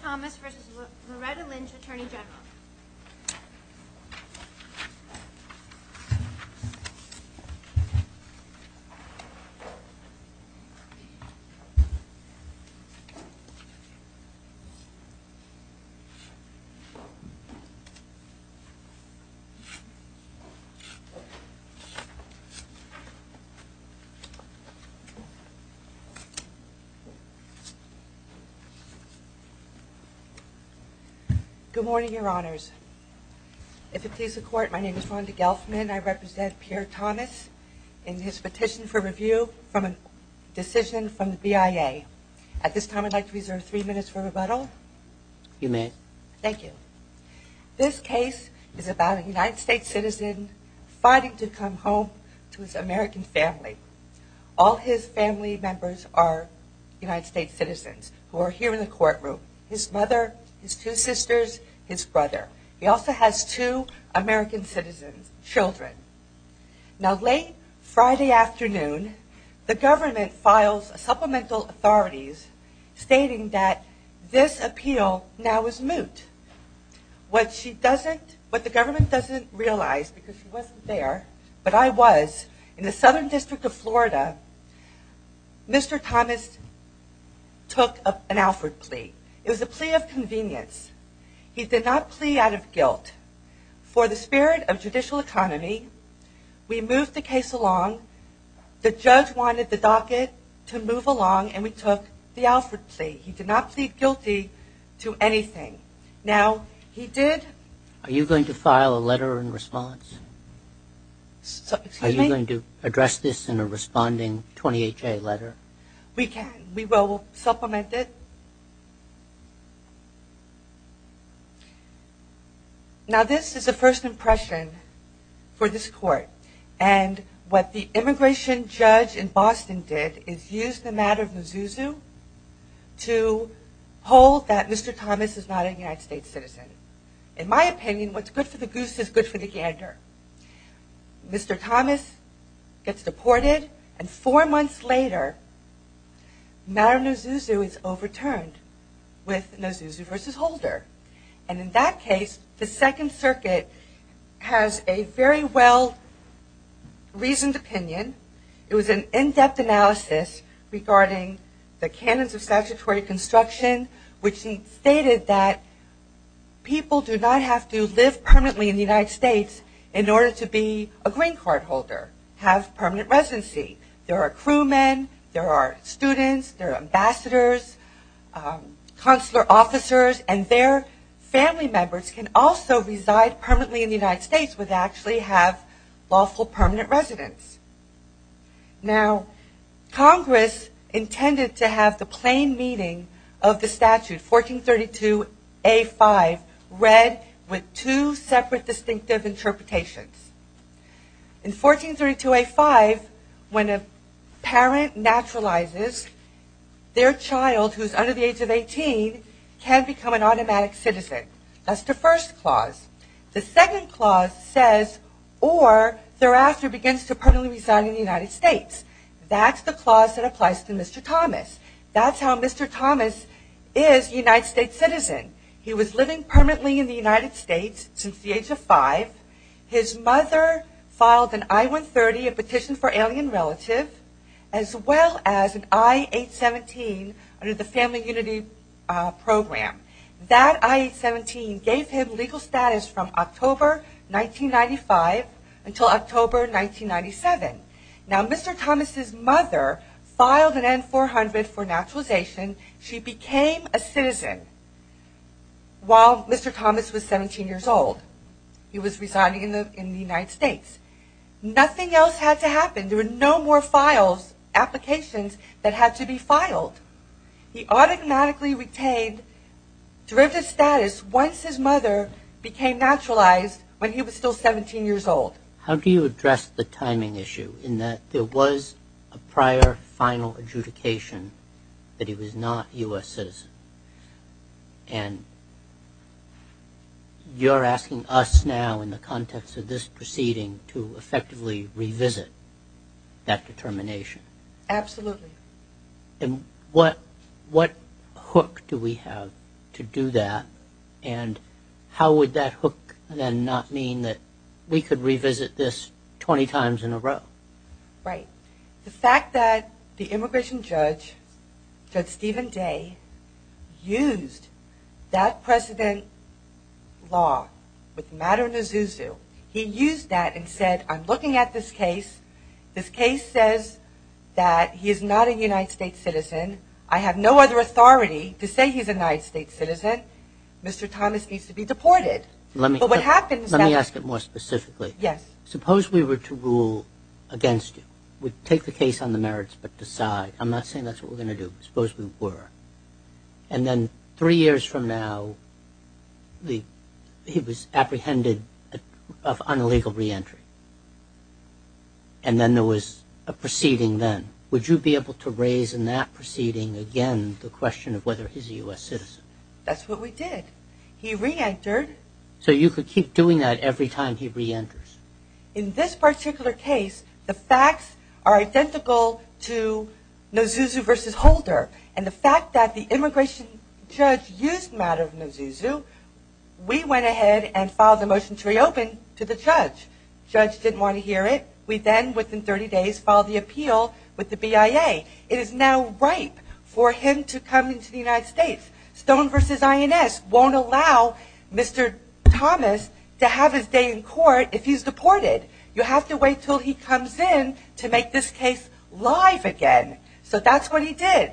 Thomas versus Loretta Lynch, Attorney General. Good morning, your honors. If it please the court, my name is Rhonda Gelfman. I represent Pierre Thomas in his petition for review from a decision from the BIA. At this time I'd like to reserve three minutes for rebuttal. You may. Thank you. This case is about a United States citizen fighting to come home to his American family. All his family members are United States citizens who are here in the courtroom. His mother, his two sisters, his brother. He also has two American citizens, children. Now late Friday afternoon, the government files supplemental authorities stating that this appeal now is moot. What she doesn't, what the government doesn't realize, because she wasn't there, but I was, in the Southern District of Florida, Mr. Thomas took an Alford plea. It was a plea of convenience. He did not plea out of guilt. For the spirit of judicial autonomy, we moved the case along. The judge wanted the docket to move along and we took the Alford plea. He did not plead guilty to anything. Now, he did... Are you going to file a letter in response? Excuse me? Are you going to address this in a responding 28-J letter? We can. We will supplement it. Now this is a first impression for this court. And what the immigration judge in Boston did is use the matter of Mizuzu to hold that Mr. Thomas is not a United States citizen. In my opinion, what's good for the goose is good for the gander. Mr. Thomas gets deported and four months later, matter of Mizuzu is overturned with Mizuzu versus Holder. And in that case, the Second Circuit has a very well-reasoned opinion. It was an in-depth analysis regarding the canons of statutory construction, which stated that people do not have to live permanently in the United States in order to be a green card holder, have permanent residency. There are crewmen, there are students, there are ambassadors, consular officers, and their family members can also reside permanently in the United States with actually have lawful permanent residence. Now, Congress intended to have the plain meaning of the statute, 1432A5, read with two separate distinctive interpretations. In 1432A5, when a parent naturalizes, their child, who is under the age of 18, can become an automatic citizen. That's the first clause. The second clause says, or thereafter begins to permanently reside in the United States. That's the clause that applies to Mr. Thomas. That's how Mr. Thomas is a United States citizen. He was living permanently in the United States since the age of five. His mother filed an I-130, a petition for alien relative, as well as an I-817 under the Family Unity Program. That I-817 gave him legal status from October 1995 until October 1997. Now, Mr. Thomas' mother filed an N-400 for naturalization. She became a citizen while Mr. Thomas was 17 years old. He was residing in the United States. Nothing else had to happen. There were no more files, applications that had to be filed. He automatically retained derivative status once his mother became naturalized when he was still 17 years old. But how do you address the timing issue in that there was a prior final adjudication that he was not a U.S. citizen? And you're asking us now, in the context of this proceeding, to effectively revisit that determination? Absolutely. And what hook do we have to do that? And how would that hook then not mean that we could revisit this 20 times in a row? Right. The fact that the immigration judge, Judge Stephen Day, used that precedent law with Maddow and Azuzu, he used that and said, I'm looking at this case. This case says that he is not a United States citizen. I have no other authority to say he's a United States citizen. Mr. Thomas needs to be deported. Let me ask it more specifically. Yes. Suppose we were to rule against you. We'd take the case on the merits but decide. I'm not saying that's what we're going to do. Suppose we were. And then three years from now, he was apprehended of unlegal reentry. And then there was a proceeding then. Would you be able to raise in that proceeding again the question of whether he's a U.S. citizen? That's what we did. He reentered. So you could keep doing that every time he reenters. In this particular case, the facts are identical to Azuzu versus Holder. And the fact that the immigration judge used Maddow and Azuzu, we went ahead and filed a motion to reopen to the judge. Judge didn't want to hear it. We then, within 30 days, filed the appeal with the BIA. It is now ripe for him to come into the United States. Stone versus INS won't allow Mr. Thomas to have his day in court if he's deported. You have to wait until he comes in to make this case live again. So that's what he did.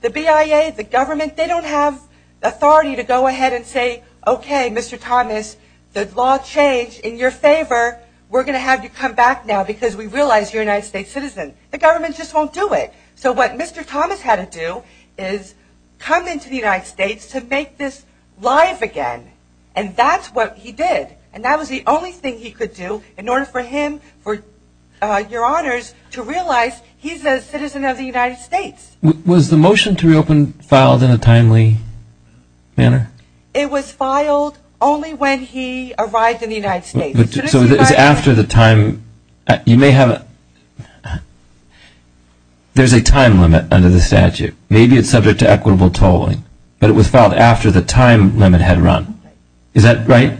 The BIA, the government, they don't have authority to go ahead and say, okay, Mr. Thomas, the law changed in your favor. We're going to have you come back now because we realize you're a United States citizen. The government just won't do it. So what Mr. Thomas had to do is come into the United States to make this live again. And that's what he did. And that was the only thing he could do in order for him, for your honors, to realize he's a citizen of the United States. Was the motion to reopen filed in a timely manner? It was filed only when he arrived in the United States. There's a time limit under the statute. Maybe it's subject to equitable tolling. But it was filed after the time limit had run. Is that right?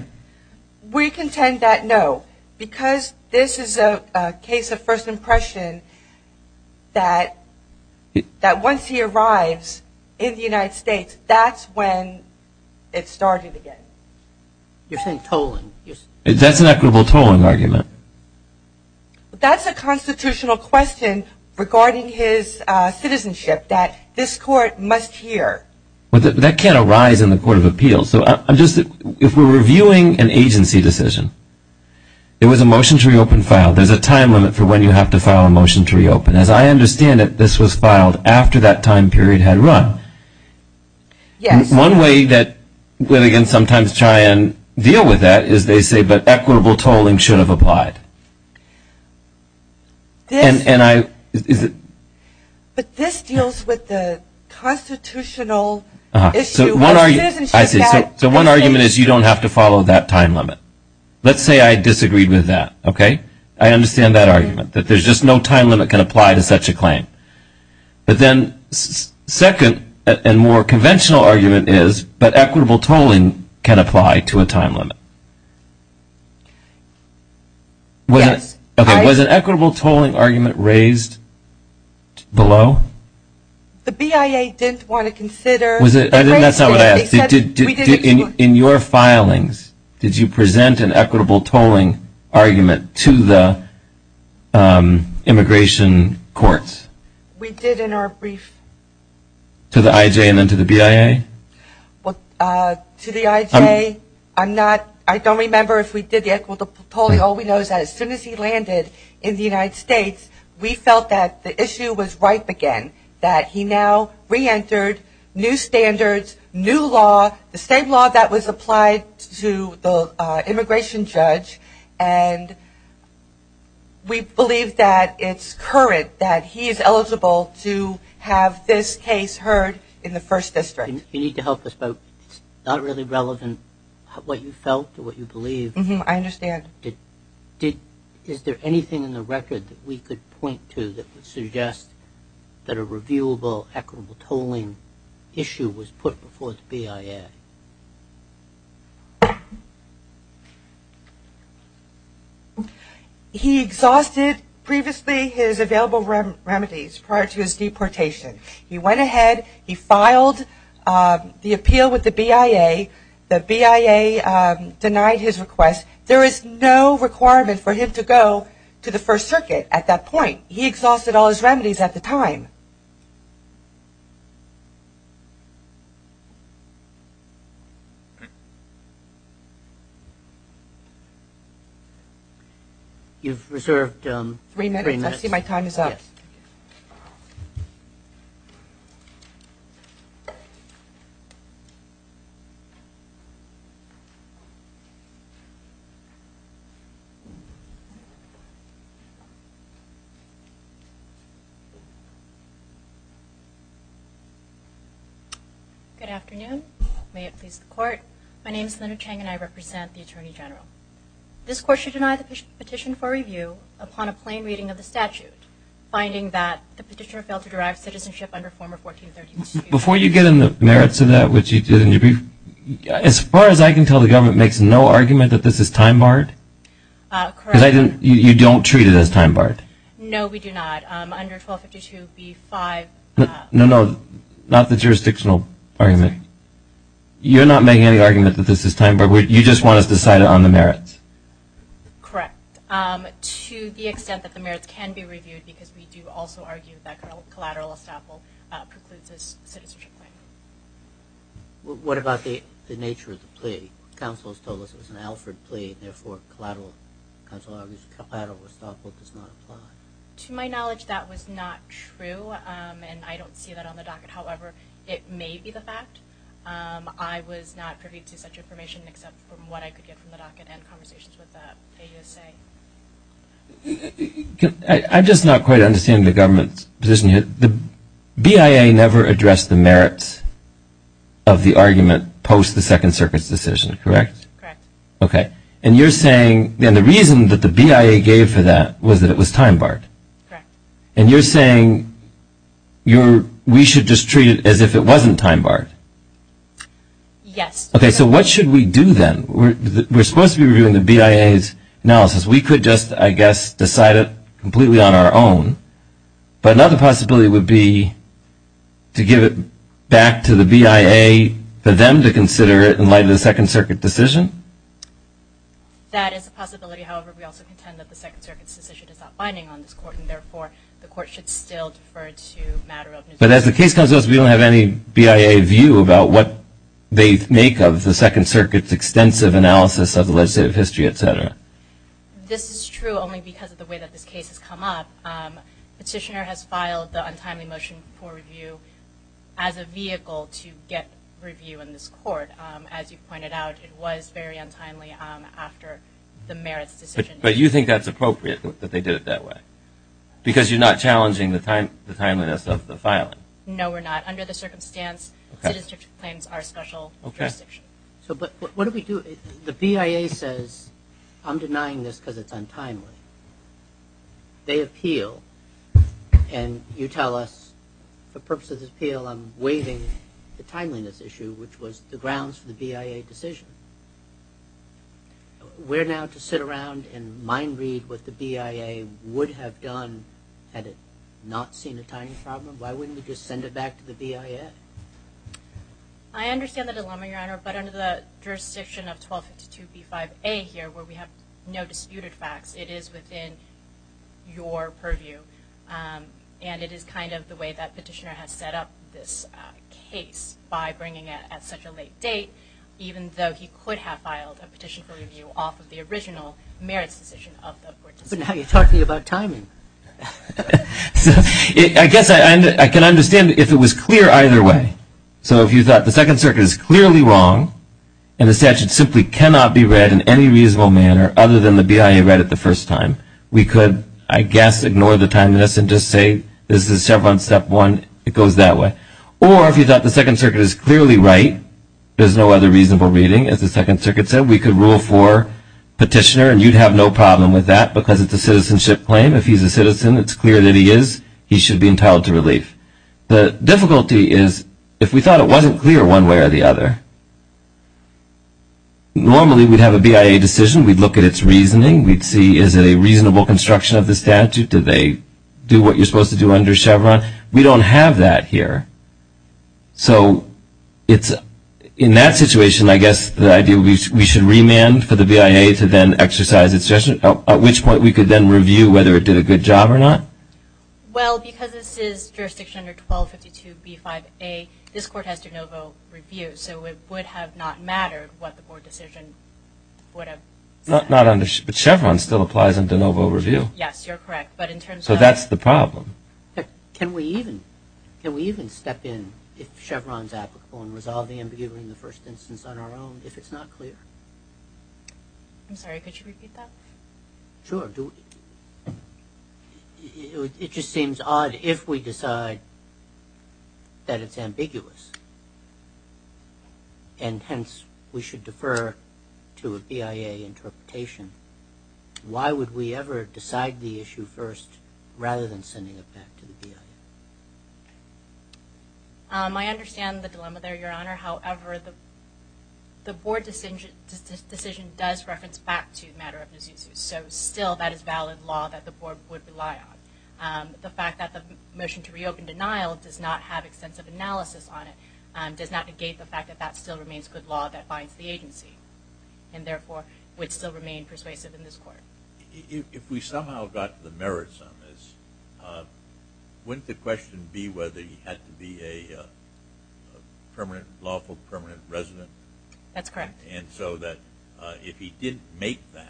We contend that no. Because this is a case of first impression that once he arrives in the United States, that's when it started again. You're saying tolling. That's an equitable tolling argument. That's a constitutional question regarding his citizenship that this court must hear. That can't arise in the Court of Appeals. If we're reviewing an agency decision, it was a motion to reopen filed. There's a time limit for when you have to file a motion to reopen. As I understand it, this was filed after that time period had run. Yes. One way that we can sometimes try and deal with that is they say, but equitable tolling should have applied. But this deals with the constitutional issue. I see. So one argument is you don't have to follow that time limit. Let's say I disagreed with that. I understand that argument, that there's just no time limit can apply to such a claim. But then second and more conventional argument is, but equitable tolling can apply to a time limit. Yes. Was an equitable tolling argument raised below? The BIA didn't want to consider. That's not what I asked. In your filings, did you present an equitable tolling argument to the immigration courts? We did in our brief. To the IJ and then to the BIA? To the IJ, I don't remember if we did the equitable tolling. All we know is that as soon as he landed in the United States, we felt that the issue was ripe again, that he now reentered new standards, new law, the same law that was applied to the immigration judge. And we believe that it's current that he is eligible to have this case heard in the first district. You need to help us, but it's not really relevant what you felt or what you believe. I understand. Is there anything in the record that we could point to that would suggest that a reviewable equitable tolling issue was put before the BIA? He exhausted previously his available remedies prior to his deportation. He went ahead, he filed the appeal with the BIA. The BIA denied his request. There is no requirement for him to go to the First Circuit at that point. He exhausted all his remedies at the time. You've reserved three minutes. I see my time is up. Good afternoon. May it please the Court. My name is Linda Chang and I represent the Attorney General. This Court should deny the petition for review upon a plain reading of the statute, finding that the petitioner failed to derive citizenship under former 1432. Before you get into the merits of that, which you did in your brief, as far as I can tell the government makes no argument that this is time barred? Correct. Because you don't treat it as time barred? No, we do not. Under 1252B5. No, no, not the jurisdictional argument. You're not making any argument that this is time barred. You just want us to cite it on the merits. Correct. To the extent that the merits can be reviewed because we do also argue that collateral estoppel precludes his citizenship claim. What about the nature of the plea? Counsel has told us it was an Alfred plea, therefore collateral estoppel does not apply. To my knowledge, that was not true, and I don't see that on the docket. However, it may be the fact. I was not privy to such information, except from what I could get from the docket and conversations with the AUSA. I'm just not quite understanding the government's position here. The BIA never addressed the merits of the argument post the Second Circuit's decision, correct? Correct. Okay. And you're saying the reason that the BIA gave for that was that it was time barred? Correct. And you're saying we should just treat it as if it wasn't time barred? Yes. Okay. So what should we do then? We're supposed to be reviewing the BIA's analysis. We could just, I guess, decide it completely on our own. But another possibility would be to give it back to the BIA for them to consider it in light of the Second Circuit decision? That is a possibility. However, we also contend that the Second Circuit's decision is not binding on this court, and therefore the court should still defer to Maduro. But as the case comes to us, we don't have any BIA view about what they make of the Second Circuit's extensive analysis of the legislative history, et cetera. This is true only because of the way that this case has come up. Petitioner has filed the untimely motion for review as a vehicle to get review in this court. As you pointed out, it was very untimely after the merits decision. But you think that's appropriate that they did it that way? Because you're not challenging the timeliness of the filing? No, we're not. Under the circumstance, citizenship claims are special jurisdiction. Okay. So what do we do? The BIA says, I'm denying this because it's untimely. They appeal, and you tell us, for purposes of appeal, I'm waiving the timeliness issue, which was the grounds for the BIA decision. We're now to sit around and mind read what the BIA would have done had it not seen a timeliness problem. Why wouldn't we just send it back to the BIA? I understand the dilemma, Your Honor, but under the jurisdiction of 1252B5A here, where we have no disputed facts, it is within your purview. And it is kind of the way that Petitioner has set up this case by bringing it at such a late date, even though he could have filed a petition for review off of the original merits decision of the court decision. But now you're talking about timing. I guess I can understand if it was clear either way. So if you thought the Second Circuit is clearly wrong, and the statute simply cannot be read in any reasonable manner other than the BIA read it the first time, we could, I guess, ignore the timeliness and just say this is step one, it goes that way. Or if you thought the Second Circuit is clearly right, there's no other reasonable reading. As the Second Circuit said, we could rule for Petitioner, and you'd have no problem with that because it's a citizenship claim. If he's a citizen, it's clear that he is. He should be entitled to relief. The difficulty is if we thought it wasn't clear one way or the other, normally we'd have a BIA decision. We'd look at its reasoning. We'd see is it a reasonable construction of the statute? Did they do what you're supposed to do under Chevron? We don't have that here. So in that situation, I guess the idea would be we should remand for the BIA to then exercise its decision, at which point we could then review whether it did a good job or not. Well, because this is jurisdiction under 1252B5A, this Court has de novo review, so it would have not mattered what the Court decision would have said. But Chevron still applies in de novo review. Yes, you're correct. So that's the problem. Can we even step in if Chevron's applicable and resolve the ambiguity in the first instance on our own if it's not clear? I'm sorry, could you repeat that? Sure. It just seems odd if we decide that it's ambiguous, and hence we should defer to a BIA interpretation. Why would we ever decide the issue first rather than sending it back to the BIA? I understand the dilemma there, Your Honor. However, the Board decision does reference back to the matter of Nzusuz, so still that is valid law that the Board would rely on. The fact that the motion to reopen denial does not have extensive analysis on it does not negate the fact that that still remains good law that binds the agency and therefore would still remain persuasive in this Court. If we somehow got to the merits on this, wouldn't the question be whether he had to be a lawful permanent resident? That's correct. And so that if he didn't make that,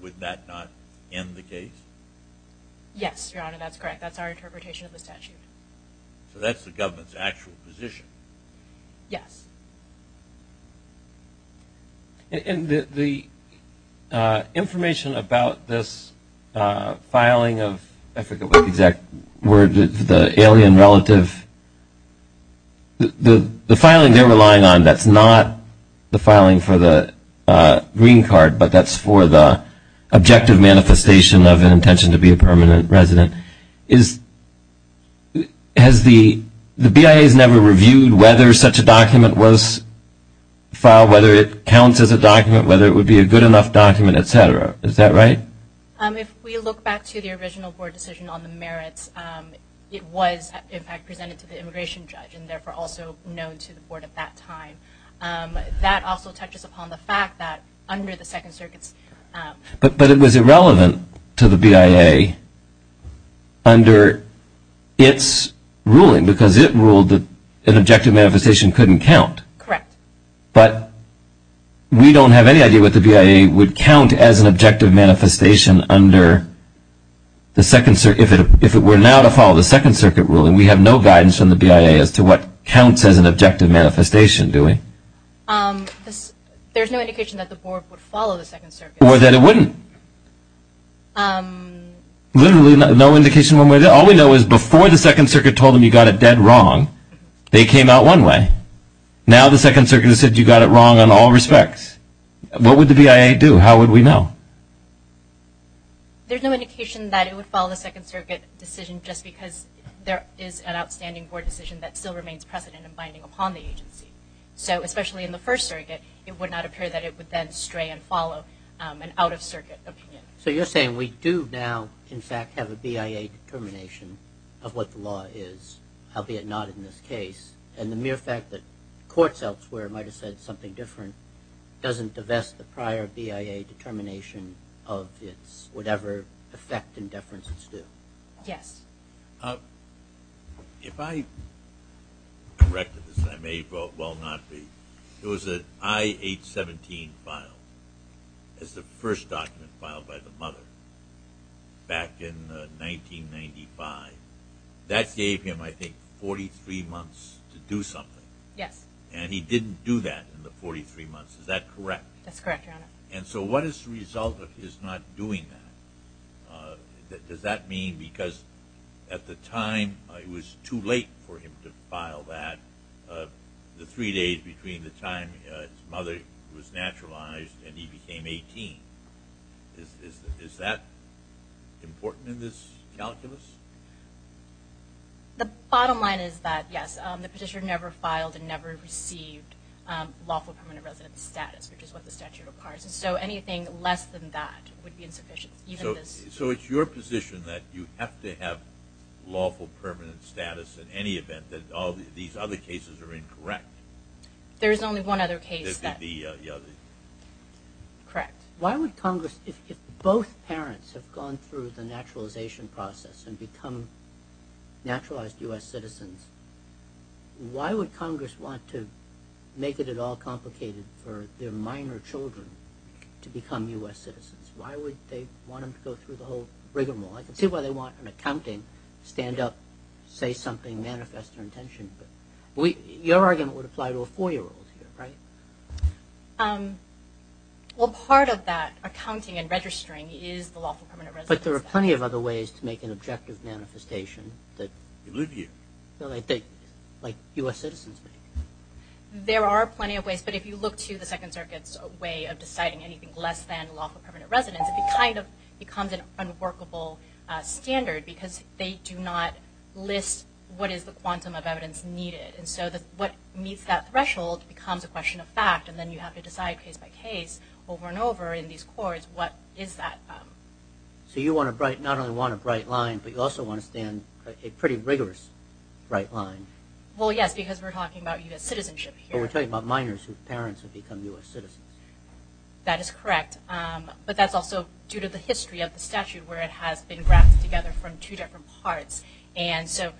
would that not end the case? Yes, Your Honor, that's correct. That's our interpretation of the statute. So that's the government's actual position? Yes. And the information about this filing of the alien relative, the filing they're relying on that's not the filing for the green card, but that's for the objective manifestation of an intention to be a permanent resident, the BIA has never reviewed whether such a document was filed, whether it counts as a document, whether it would be a good enough document, et cetera. Is that right? If we look back to the original Board decision on the merits, it was in fact presented to the immigration judge and therefore also known to the Board at that time. That also touches upon the fact that under the Second Circuit's – But it was irrelevant to the BIA under its ruling because it ruled that an objective manifestation couldn't count. Correct. But we don't have any idea what the BIA would count as an objective manifestation under the Second – if it were now to follow the Second Circuit ruling, we have no guidance from the BIA as to what counts as an objective manifestation, do we? There's no indication that the Board would follow the Second Circuit. Or that it wouldn't. Literally no indication one way or the other. All we know is before the Second Circuit told them you got it dead wrong, they came out one way. Now the Second Circuit has said you got it wrong in all respects. What would the BIA do? How would we know? There's no indication that it would follow the Second Circuit decision just because there is an outstanding Board decision that still remains precedent and binding upon the agency. So especially in the First Circuit, it would not appear that it would then stray and follow an out-of-circuit opinion. So you're saying we do now, in fact, have a BIA determination of what the law is, albeit not in this case, and the mere fact that courts elsewhere might have said something different doesn't divest the prior BIA determination of its – whatever effect and deference it's due. Yes. If I corrected this, and I may well not be, there was an I-817 file as the first document filed by the mother back in 1995. That gave him, I think, 43 months to do something. Yes. And he didn't do that in the 43 months. Is that correct? That's correct, Your Honor. And so what is the result of his not doing that? Does that mean because at the time it was too late for him to file that, the three days between the time his mother was naturalized and he became 18, is that important in this calculus? The bottom line is that, yes, the petitioner never filed and never received lawful permanent resident status, which is what the statute requires. So anything less than that would be insufficient, even this. So it's your position that you have to have lawful permanent status in any event, that all these other cases are incorrect? There is only one other case that – The other. Correct. Why would Congress, if both parents have gone through the naturalization process and become naturalized U.S. citizens, why would Congress want to make it at all complicated for their minor children to become U.S. citizens? Why would they want them to go through the whole rigmarole? I can see why they want an accounting stand-up, say something, manifest their intention, but your argument would apply to a four-year-old here, right? Well, part of that accounting and registering is the lawful permanent resident status. But there are plenty of other ways to make an objective manifestation that I think like U.S. citizens make. There are plenty of ways, but if you look to the Second Circuit's way of deciding anything less than lawful permanent residence, it kind of becomes an unworkable standard because they do not list what is the quantum of evidence needed. And so what meets that threshold becomes a question of fact, and then you have to decide case by case over and over in these courts what is that. So you want a bright – not only want a bright line, but you also want to stand a pretty rigorous bright line. Well, yes, because we're talking about U.S. citizenship here. But we're talking about minors whose parents have become U.S. citizens. That is correct. But that's also due to the history of the statute where it has been wrapped together from two different parts. And so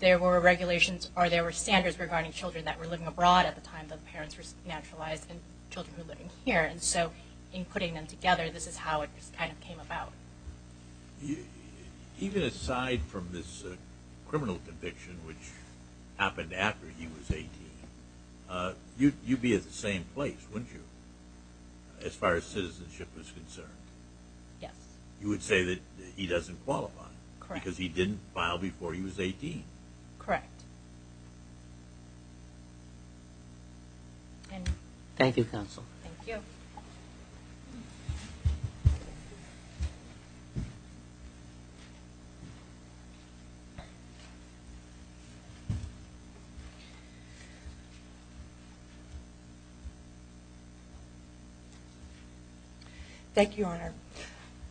there were regulations or there were standards regarding children that were living abroad at the time the parents were naturalized and children were living here. And so in putting them together, this is how it kind of came about. Even aside from this criminal conviction, which happened after he was 18, you'd be at the same place, wouldn't you, as far as citizenship was concerned? Yes. You would say that he doesn't qualify. Correct. Because he didn't file before he was 18. Correct. Thank you, counsel. Thank you. Thank you. Thank you, Your Honor.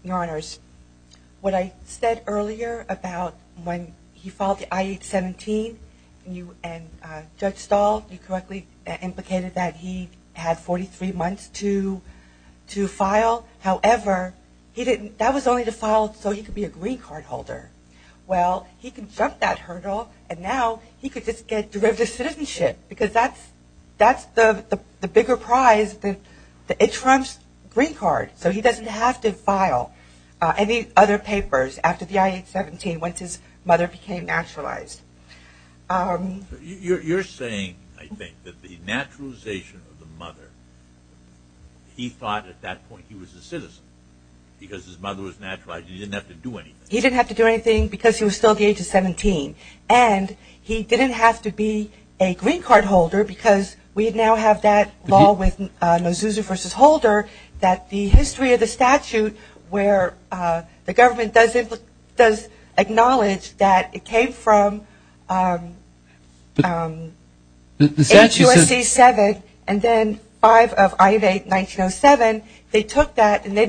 Your Honors, what I said earlier about when he filed the I-817 and Judge Stahl, you correctly implicated that he had 43 months to file. However, that was only to file so he could be a green card holder. Well, he could jump that hurdle and now he could just get derivative citizenship because that's the bigger prize, the insurance green card, so he doesn't have to file any other papers after the I-817 once his mother became naturalized. You're saying, I think, that the naturalization of the mother, he thought at that point he was a citizen because his mother was naturalized and he didn't have to do anything. He didn't have to do anything because he was still at the age of 17, and he didn't have to be a green card holder because we now have that law with Mazzuzo v. Holder that the history of the statute where the government does acknowledge that it came from HUSC-7 and then 5 of I-8-1907, they took that and they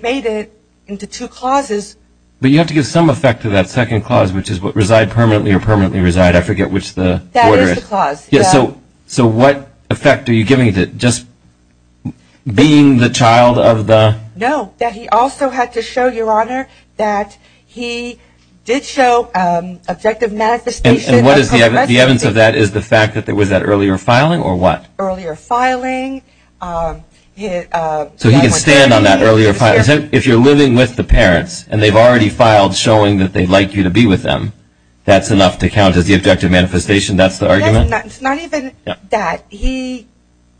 made it into two clauses. But you have to give some effect to that second clause, which is what reside permanently or permanently reside. I forget which the order is. That is the clause. So what effect are you giving it, just being the child of the? No, that he also had to show, Your Honor, that he did show objective manifestation. And what is the evidence of that? The evidence of that is the fact that there was that earlier filing or what? Earlier filing. So he can stand on that earlier filing. If you're living with the parents and they've already filed showing that they'd like you to be with them, that's enough to count as the objective manifestation? That's the argument? Not even that. He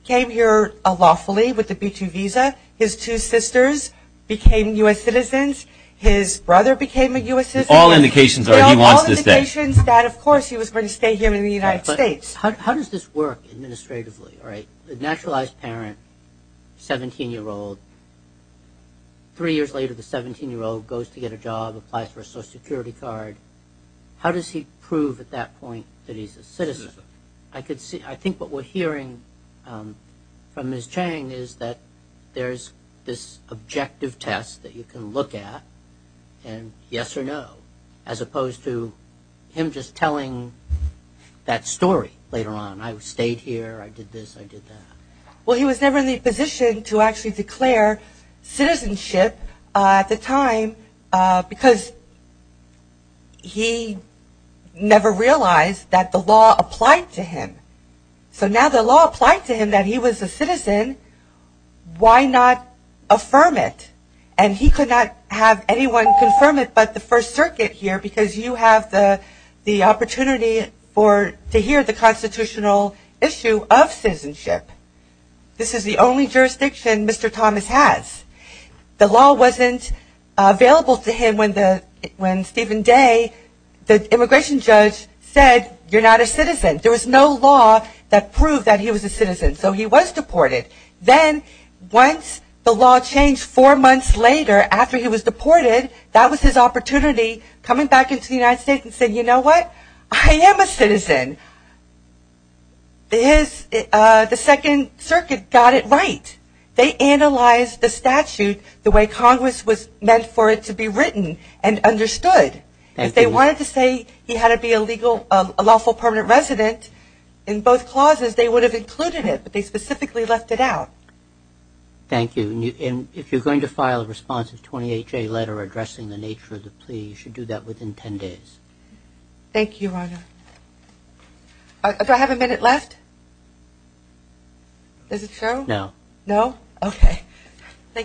came here lawfully with a B-2 visa. His two sisters became U.S. citizens. His brother became a U.S. citizen. So all indications are he wants to stay. All indications that, of course, he was going to stay here in the United States. How does this work administratively? The naturalized parent, 17-year-old, three years later, the 17-year-old goes to get a job, applies for a Social Security card. How does he prove at that point that he's a citizen? I think what we're hearing from Ms. Chang is that there's this objective test that you can look at and yes or no, as opposed to him just telling that story later on. I stayed here. I did this. I did that. Well, he was never in the position to actually declare citizenship at the time because he never realized that the law applied to him. So now the law applied to him that he was a citizen. Why not affirm it? And he could not have anyone confirm it but the First Circuit here because you have the opportunity to hear the constitutional issue of citizenship. This is the only jurisdiction Mr. Thomas has. The law wasn't available to him when Stephen Day, the immigration judge, said you're not a citizen. There was no law that proved that he was a citizen, so he was deported. Then once the law changed four months later after he was deported, that was his opportunity coming back into the United States and saying, you know what, I am a citizen. The Second Circuit got it right. They analyzed the statute the way Congress was meant for it to be written and understood. If they wanted to say he had to be a lawful permanent resident in both clauses, they would have included it, but they specifically left it out. Thank you. If you're going to file a responsive 28-J letter addressing the nature of the plea, you should do that within 10 days. Thank you, Your Honor. Do I have a minute left? Is it true? No. No? Okay.